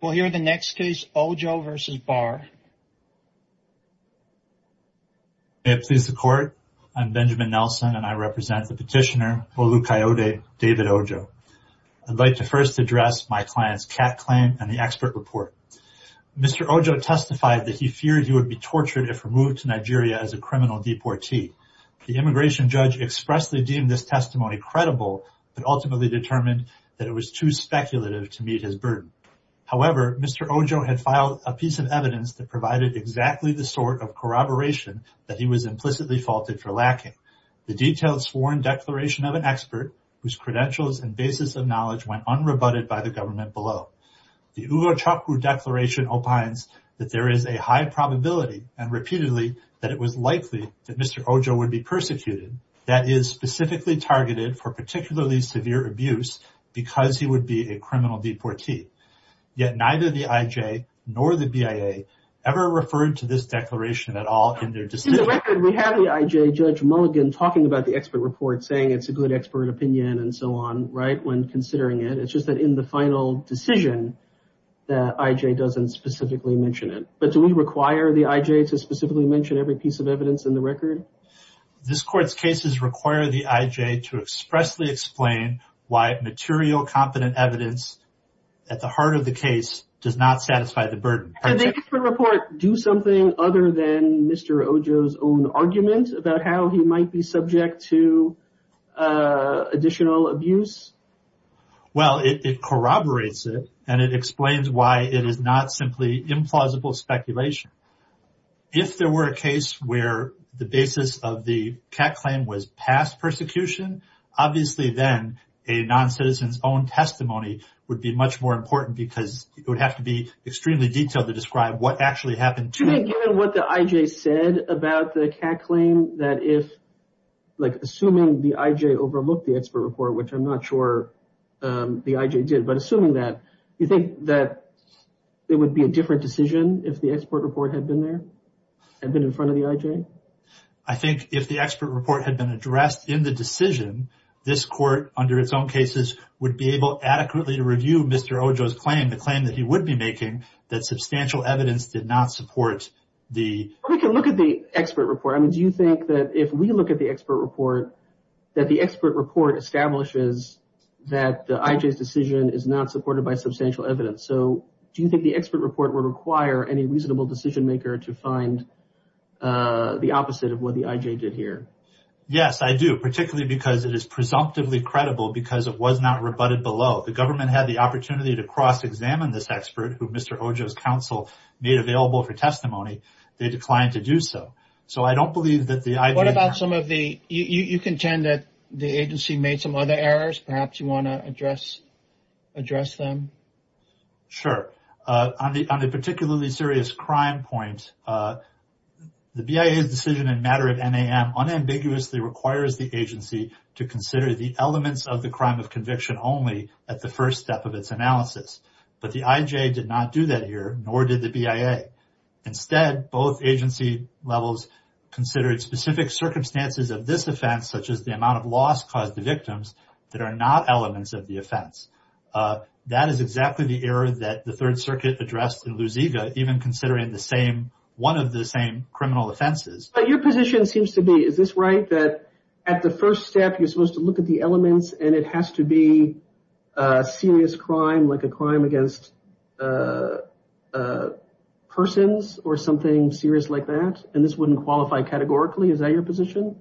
We'll hear the next case, Ojo v. Barr. May it please the Court, I'm Benjamin Nelson, and I represent the petitioner Olukayode David Ojo. I'd like to first address my client's CAT claim and the expert report. Mr. Ojo testified that he feared he would be tortured if removed to Nigeria as a criminal deportee. The immigration judge expressly deemed this testimony credible, but ultimately determined that it was too speculative to meet his burden. However, Mr. Ojo had filed a piece of evidence that provided exactly the sort of corroboration that he was implicitly faulted for lacking. The detailed sworn declaration of an expert, whose credentials and basis of knowledge went unrebutted by the government below. The Ugo Chokwu declaration opines that there is a high probability, and repeatedly, that it was likely that Mr. Ojo would be persecuted, that is, specifically targeted for particularly severe abuse, because he would be a criminal deportee. Yet neither the IJ nor the BIA ever referred to this declaration at all in their decision. In the record, we have the IJ judge Mulligan talking about the expert report, saying it's a good expert opinion and so on, right, when considering it. It's just that in the final decision, the IJ doesn't specifically mention it. But do we require the IJ to specifically mention every piece of evidence in the record? This court's cases require the IJ to expressly explain why material, competent evidence at the heart of the case does not satisfy the burden. Can the expert report do something other than Mr. Ojo's own argument about how he might be subject to additional abuse? Well, it corroborates it and it explains why it is not simply implausible speculation. If there were a case where the basis of the CAC claim was past persecution, obviously then a non-citizen's own testimony would be much more important because it would have to be extremely detailed to describe what actually happened to him. Given what the IJ said about the CAC claim, that if, like, assuming the IJ overlooked the expert report, which I'm not sure the IJ did, but assuming that, you think that it would be a different decision if the expert report had been there, had been in front of the IJ? I think if the expert report had been addressed in the decision, this court, under its own cases, would be able adequately to review Mr. Ojo's claim, the claim that he would be making, that substantial evidence did not support the... We can look at the expert report. I mean, do you think that if we look at the expert report, that the expert report establishes that the IJ's decision is not supported by substantial evidence? So, do you think the expert report would require any reasonable decision maker to find the opposite of what the IJ did here? Yes, I do, particularly because it is presumptively credible because it was not rebutted below. The government had the opportunity to cross-examine this expert, who Mr. Ojo's counsel made available for testimony. They declined to do so. So I don't believe that the IJ... What about some of the... You contend that the agency made some other errors? Perhaps you want to address them? Sure. On the particularly serious crime point, the BIA's decision in matter of NAM unambiguously requires the agency to consider the elements of the crime of conviction only at the first step of its analysis. But the IJ did not do that here, nor did the BIA. Instead, both agency levels considered specific circumstances of this offense, such as the are not elements of the offense. That is exactly the error that the Third Circuit addressed in Lusiga, even considering the same... One of the same criminal offenses. Your position seems to be, is this right, that at the first step, you're supposed to look at the elements and it has to be a serious crime, like a crime against persons or something serious like that? And this wouldn't qualify categorically? Is that your position?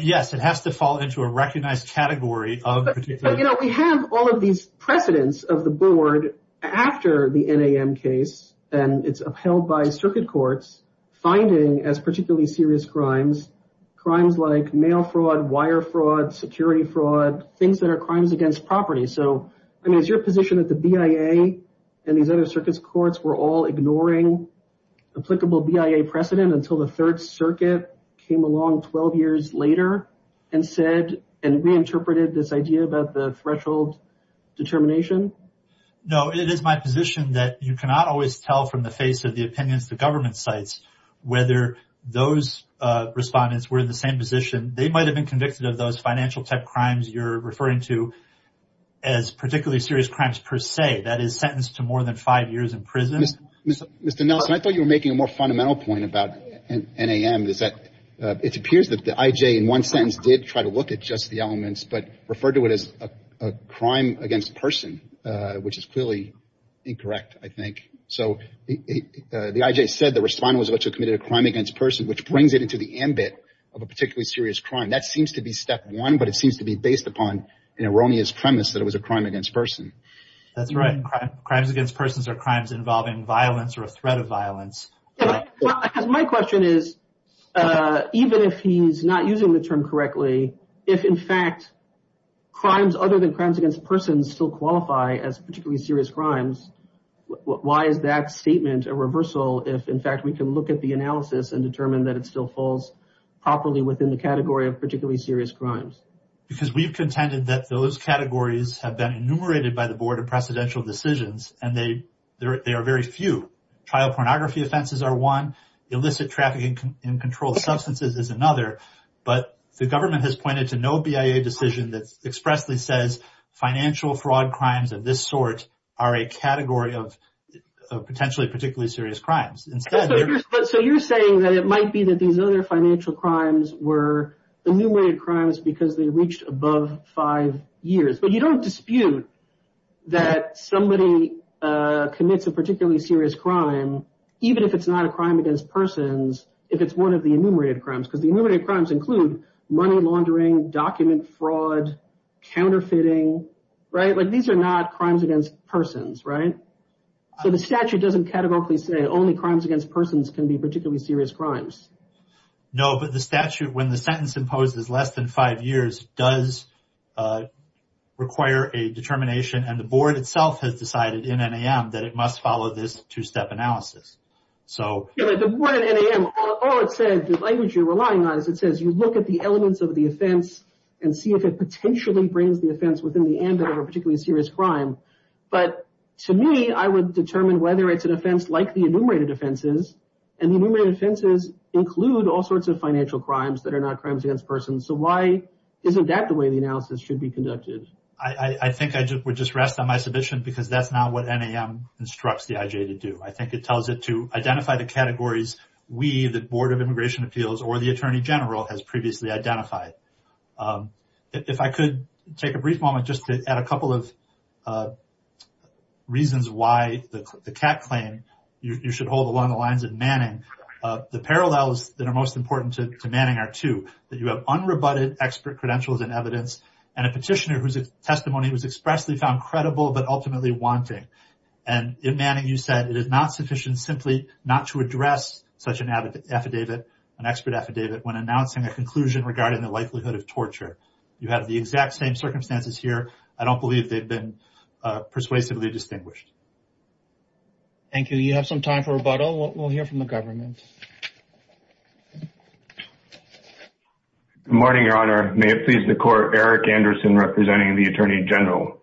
Yes, it has to fall into a recognized category of... But, you know, we have all of these precedents of the board after the NAM case, and it's upheld by circuit courts, finding as particularly serious crimes, crimes like mail fraud, wire fraud, security fraud, things that are crimes against property. So I mean, is your position that the BIA and these other circuits courts were all ignoring applicable BIA precedent until the Third Circuit came along 12 years later and said, and reinterpreted this idea about the threshold determination? No, it is my position that you cannot always tell from the face of the opinions the government cites whether those respondents were in the same position. They might have been convicted of those financial tech crimes you're referring to as particularly serious crimes per se, that is sentenced to more than five years in prison. Mr. Nelson, I thought you were making a more fundamental point about NAM. It appears that the IJ in one sentence did try to look at just the elements, but referred to it as a crime against person, which is clearly incorrect, I think. So the IJ said the respondent was allegedly committed a crime against person, which brings it into the ambit of a particularly serious crime. That seems to be step one, but it seems to be based upon an erroneous premise that it was a crime against person. That's right. Crimes against persons are crimes involving violence or a threat of violence. My question is, even if he's not using the term correctly, if in fact crimes other than crimes against persons still qualify as particularly serious crimes, why is that statement a reversal if in fact we can look at the analysis and determine that it still falls properly within the category of particularly serious crimes? Because we've contended that those categories have been enumerated by the Board of Presidential Decisions and they are very few. Trial pornography offenses are one, illicit trafficking in controlled substances is another, but the government has pointed to no BIA decision that expressly says financial fraud crimes of this sort are a category of potentially particularly serious crimes. So you're saying that it might be that these other financial crimes were enumerated crimes because they reached above five years, but you don't dispute that somebody commits a particularly serious crime, even if it's not a crime against persons, if it's one of the enumerated crimes. Because the enumerated crimes include money laundering, document fraud, counterfeiting, right? Like these are not crimes against persons, right? So the statute doesn't categorically say only crimes against persons can be particularly serious crimes. No, but the statute, when the sentence imposes less than five years, does require a determination and the board itself has decided in NAM that it must follow this two-step analysis. So the board at NAM, all it said, the language you're relying on, is it says you look at the elements of the offense and see if it potentially brings the offense within the ambit of a particularly serious crime. But to me, I would determine whether it's an offense like the enumerated offenses and the enumerated offenses include all sorts of financial crimes that are not crimes against persons. So why isn't that the way the analysis should be conducted? I think I would just rest on my submission because that's not what NAM instructs the IJ to do. I think it tells it to identify the categories we, the Board of Immigration Appeals, or the Attorney General has previously identified. If I could take a brief moment just to add a couple of reasons why the CAC claim, you should hold along the lines of Manning. The parallels that are most important to Manning are two, that you have unrebutted expert credentials and evidence and a petitioner whose testimony was expressly found credible but ultimately wanting. And in Manning, you said, it is not sufficient simply not to address such an affidavit, an expert affidavit, when announcing a conclusion regarding the likelihood of torture. You have the exact same circumstances here. I don't believe they've been persuasively distinguished. Thank you. You have some time for rebuttal. We'll hear from the government. Good morning, Your Honor. May it please the Court, Eric Anderson representing the Attorney General.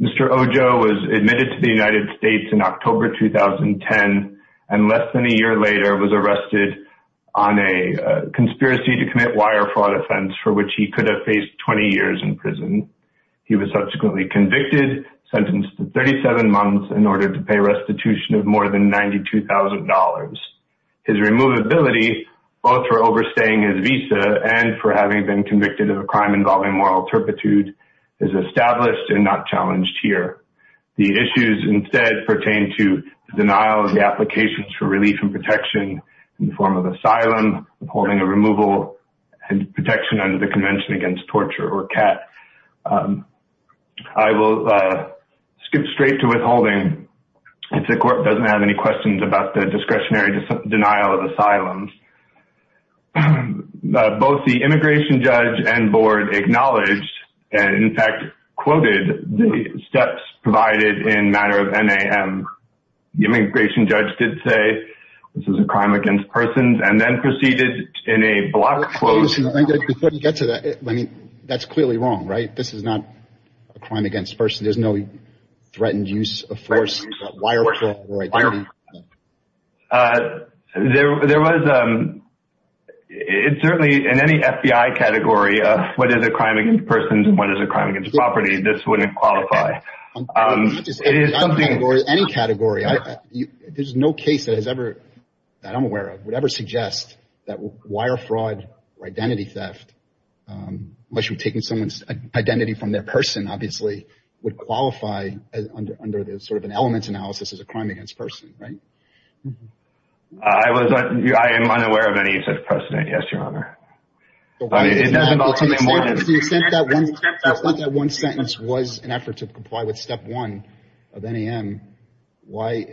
Mr. Ojo was admitted to the United States in October 2010 and less than a year later was arrested on a conspiracy to commit wire fraud offense for which he could have faced 20 years in prison. He was subsequently convicted, sentenced to 37 months in order to pay restitution of more than $92,000. His removability, both for overstaying his visa and for having been convicted of a crime involving moral turpitude, is established and not challenged here. The issues instead pertain to the denial of the applications for relief and protection in the form of asylum, holding a removal and protection under the Convention Against Torture or CAT. I will skip straight to withholding. The court doesn't have any questions about the discretionary denial of asylum. Both the immigration judge and board acknowledged and, in fact, quoted the steps provided in matter of NAM. The immigration judge did say this is a crime against persons and then proceeded in a block quote. Before we get to that, that's clearly wrong, right? This is not a crime against persons. There's no threatened use of force, wire fraud, or identity theft. There was certainly in any FBI category of what is a crime against persons and what is a crime against property, this wouldn't qualify. Not just any category. Any category. There's no case that has ever, that I'm aware of, would ever suggest that wire fraud or identity theft, unless you're taking someone's identity from their person, obviously, would qualify under sort of an element analysis as a crime against person, right? I am unaware of any such precedent, yes, Your Honor. The extent that one sentence was an effort to comply with step one of NAM, why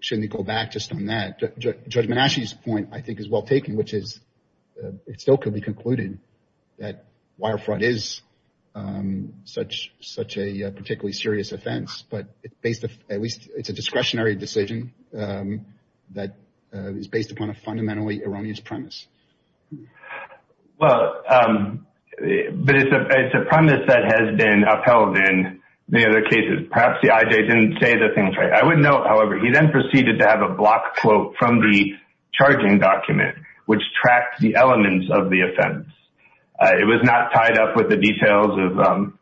shouldn't it go back just on that? Judge Menasci's point, I think, is well taken, which is it still could be concluded that wire fraud is such a particularly serious offense. But at least it's a discretionary decision that is based upon a fundamentally erroneous premise. Well, but it's a premise that has been upheld in many other cases. Perhaps the IJ didn't say the things right. I would note, however, he then proceeded to have a block quote from the charging document, which tracked the elements of the offense. It was not tied up with the details of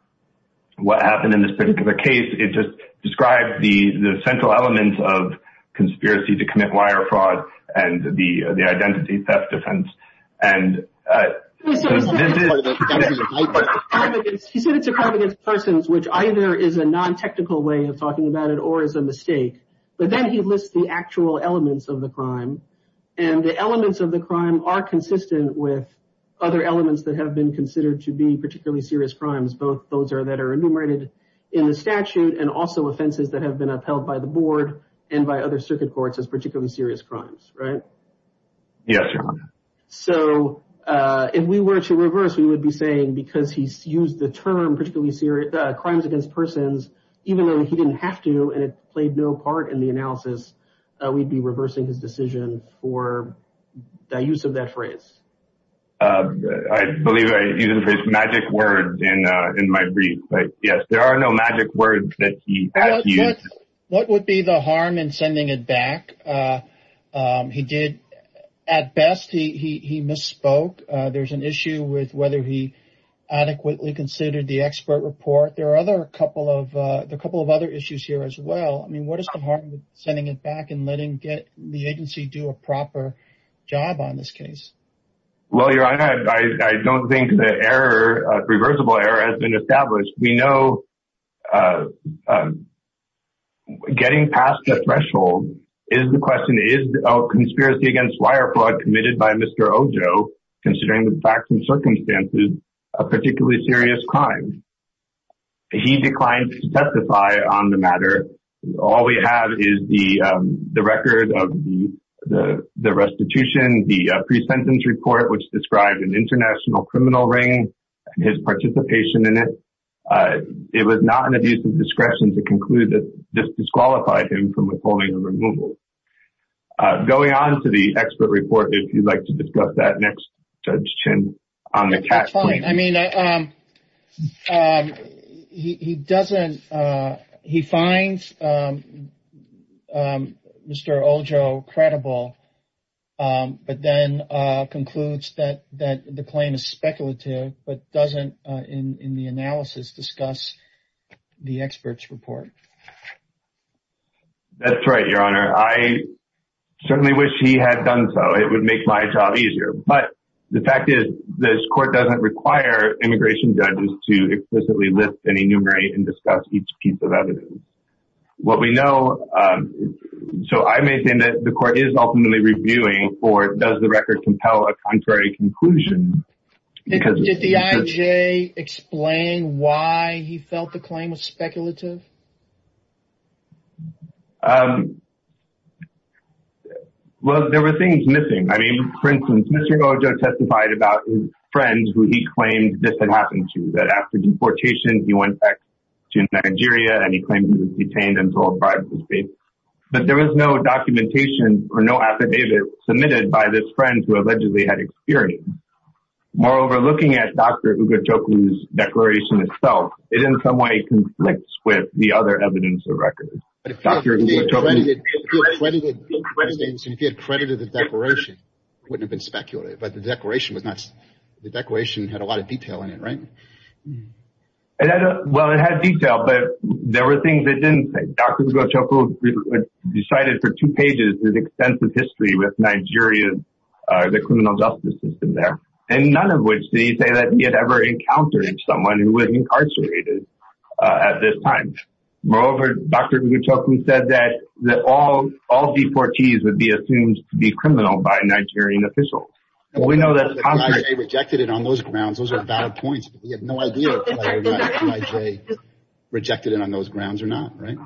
what happened in this particular case. It just described the central elements of conspiracy to commit wire fraud and the identity theft defense. He said it's a crime against persons, which either is a non-technical way of talking about it or is a mistake. But then he lists the actual elements of the crime, and the elements of the crime are consistent with other elements that have been considered to be particularly serious crimes. Both those are that are enumerated in the statute and also offenses that have been upheld by the board and by other circuit courts as particularly serious crimes. Right. Yes. So if we were to reverse, we would be saying because he's used the term particularly serious crimes against persons, even though he didn't have to and it played no part in the analysis, we'd be reversing his decision for the use of that phrase. I believe I used the phrase magic words in my brief. Yes, there are no magic words that he has used. What would be the harm in sending it back? At best, he misspoke. There's an issue with whether he adequately considered the expert report. There are a couple of other issues here as well. I mean, what is the harm in sending it back and letting the agency do a proper job on this case? Well, Your Honor, I don't think the irreversible error has been established. We know getting past the threshold is the question. Is a conspiracy against wire fraud committed by Mr. Ojo, considering the facts and circumstances, a particularly serious crime? He declined to testify on the matter. All we have is the record of the restitution, the pre-sentence report, which described an international criminal ring and his participation in it. It was not an abuse of discretion to conclude that this disqualified him from withholding the removal. Going on to the expert report, if you'd like to discuss that next, Judge Chin. That's fine. He finds Mr. Ojo credible but then concludes that the claim is speculative but doesn't, in the analysis, discuss the expert's report. That's right, Your Honor. I certainly wish he had done so. It would make my job easier. But the fact is this court doesn't require immigration judges to explicitly list and enumerate and discuss each piece of evidence. What we know, so I may think that the court is ultimately reviewing or does the record compel a contrary conclusion? Did the IJ explain why he felt the claim was speculative? Well, there were things missing. I mean, for instance, Mr. Ojo testified about his friends who he claimed this had happened to, that after deportation he went back to Nigeria and he claimed he was detained until a bribe was paid. But there was no documentation or no affidavit submitted by this friend who allegedly had experience. Moreover, looking at Dr. Ugachoglu's declaration itself, it in some way conflicts with the other evidence of record. If he had credited the declaration, it wouldn't have been speculative. But the declaration had a lot of detail in it, right? Well, it had detail, but there were things that didn't. Dr. Ugachoglu decided for two pages his extensive history with Nigeria, the criminal justice system there, and none of which did he say that he had ever encountered someone who was incarcerated at this time. Moreover, Dr. Ugachoglu said that all deportees would be assumed to be criminal by a Nigerian official. Well, we know that the IJ rejected it on those grounds. Those are valid points, but we have no idea whether the IJ rejected it on those grounds or not, right?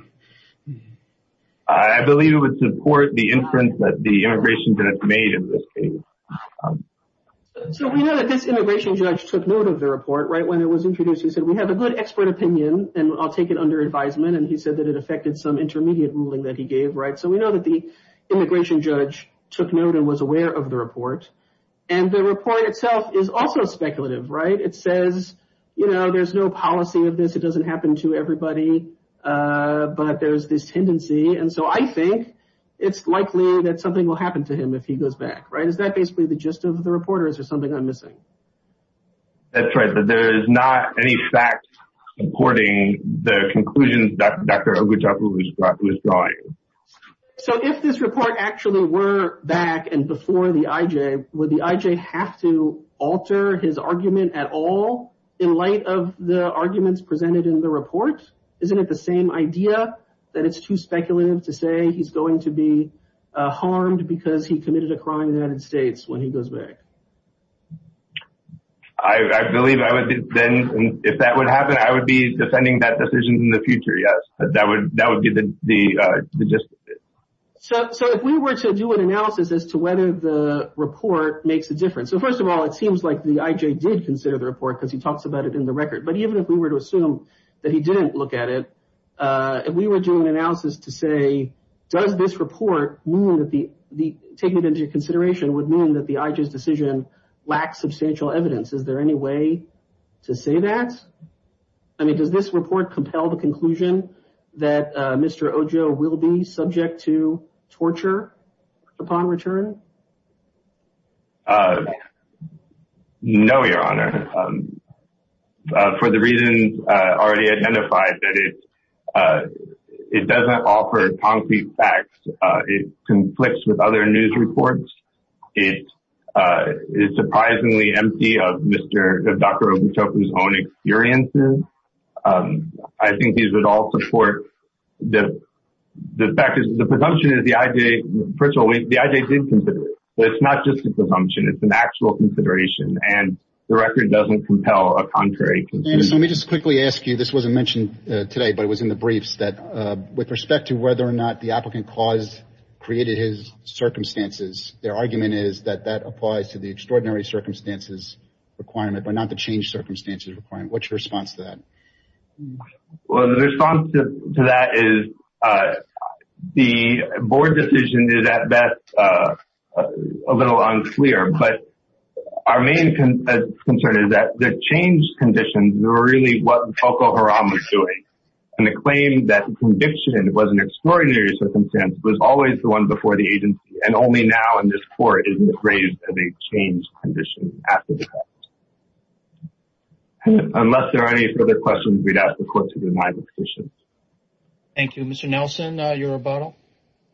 I believe it would support the inference that the immigration judge made in this case. So we know that this immigration judge took note of the report, right, when it was introduced. He said, we have a good expert opinion, and I'll take it under advisement. And he said that it affected some intermediate ruling that he gave, right? So we know that the immigration judge took note and was aware of the report. And the report itself is also speculative, right? It says, you know, there's no policy of this. It doesn't happen to everybody, but there's this tendency. And so I think it's likely that something will happen to him if he goes back, right? Is that basically the gist of the report, or is there something I'm missing? That's right, that there is not any fact supporting the conclusions that Dr. Ogutopo was drawing. So if this report actually were back and before the IJ, would the IJ have to alter his argument at all in light of the arguments presented in the report? Isn't it the same idea that it's too speculative to say he's going to be harmed because he committed a crime in the United States when he goes back? I believe I would then, if that would happen, I would be defending that decision in the future, yes. That would be the gist of it. So if we were to do an analysis as to whether the report makes a difference. So first of all, it seems like the IJ did consider the report because he talks about it in the record. But even if we were to assume that he didn't look at it, if we were doing analysis to say, does this report mean that the – taking it into consideration would mean that the IJ's decision lacks substantial evidence. Is there any way to say that? I mean, does this report compel the conclusion that Mr. Ojo will be subject to torture upon return? No, Your Honor. For the reasons already identified, it doesn't offer concrete facts. It conflicts with other news reports. It is surprisingly empty of Dr. Ogutoku's own experiences. I think these would all support – the fact is, the presumption is the IJ – first of all, the IJ did consider the report. It's not just a presumption. It's an actual consideration, and the record doesn't compel a contrary conclusion. So let me just quickly ask you – this wasn't mentioned today, but it was in the briefs – that with respect to whether or not the applicant caused – created his circumstances, their argument is that that applies to the extraordinary circumstances requirement, but not the changed circumstances requirement. What's your response to that? Well, the response to that is the board decision is, at best, a little unclear, but our main concern is that the changed conditions were really what Falko Haram was doing, and the claim that the conviction was an extraordinary circumstance was always the one before the agency, and only now in this court is it raised as a changed condition after the fact. Unless there are any further questions, we'd ask the court to remind the petitioner. Thank you. Mr. Nelson, your rebuttal?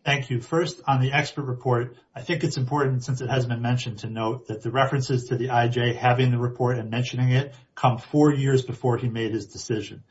Thank you. First, on the expert report, I think it's important, since it has been mentioned, to note that the references to the IJ having the report and mentioning it come four years before he made his decision.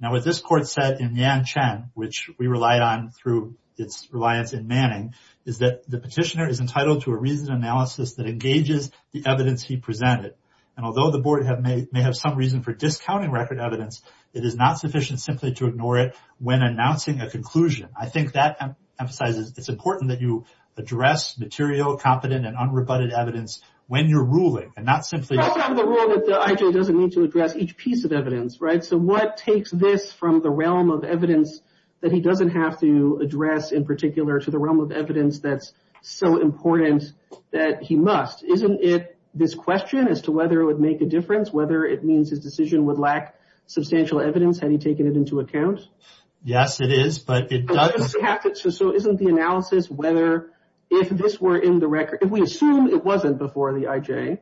Now, what this court said in Yan Chen, which we relied on through its reliance in Manning, is that the petitioner is entitled to a reasoned analysis that engages the evidence he presented. And although the board may have some reason for discounting record evidence, it is not sufficient simply to ignore it when announcing a conclusion. I think that emphasizes it's important that you address material, competent, and unrebutted evidence when you're ruling, and not simply— That's part of the rule that the IJ doesn't need to address each piece of evidence, right? So what takes this from the realm of evidence that he doesn't have to address, in particular, to the realm of evidence that's so important that he must? Isn't it this question as to whether it would make a difference, whether it means his decision would lack substantial evidence had he taken it into account? Yes, it is, but it doesn't. So isn't the analysis whether if this were in the record—if we assume it wasn't before the IJ,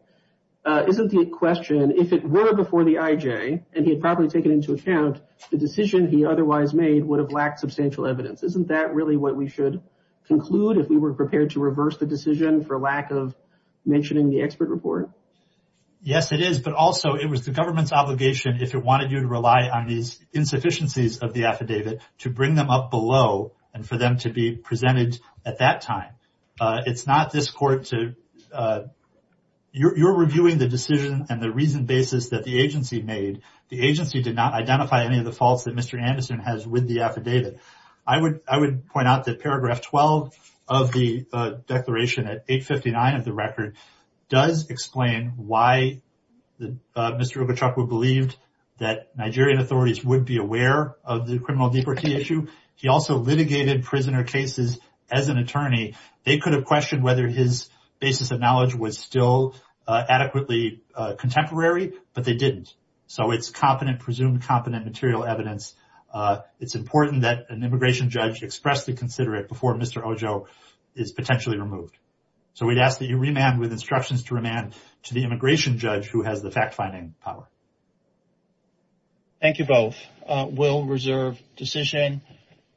isn't the question, if it were before the IJ, and he had probably taken it into account, the decision he otherwise made would have lacked substantial evidence? Isn't that really what we should conclude if we were prepared to reverse the decision for lack of mentioning the expert report? Yes, it is, but also it was the government's obligation, if it wanted you to rely on these insufficiencies of the affidavit, to bring them up below and for them to be presented at that time. It's not this court to—you're reviewing the decision and the reasoned basis that the agency made. The agency did not identify any of the faults that Mr. Anderson has with the affidavit. I would point out that paragraph 12 of the declaration at 859 of the record does explain why Mr. Ogachukwu believed that Nigerian authorities would be aware of the criminal deportee issue. He also litigated prisoner cases as an attorney. They could have questioned whether his basis of knowledge was still adequately contemporary, but they didn't. So it's competent—presumed competent—material evidence. It's important that an immigration judge expressly consider it before Mr. Ogachukwu is potentially removed. So we'd ask that you remand with instructions to remand to the immigration judge who has the fact-finding power. Thank you both. We'll reserve decision.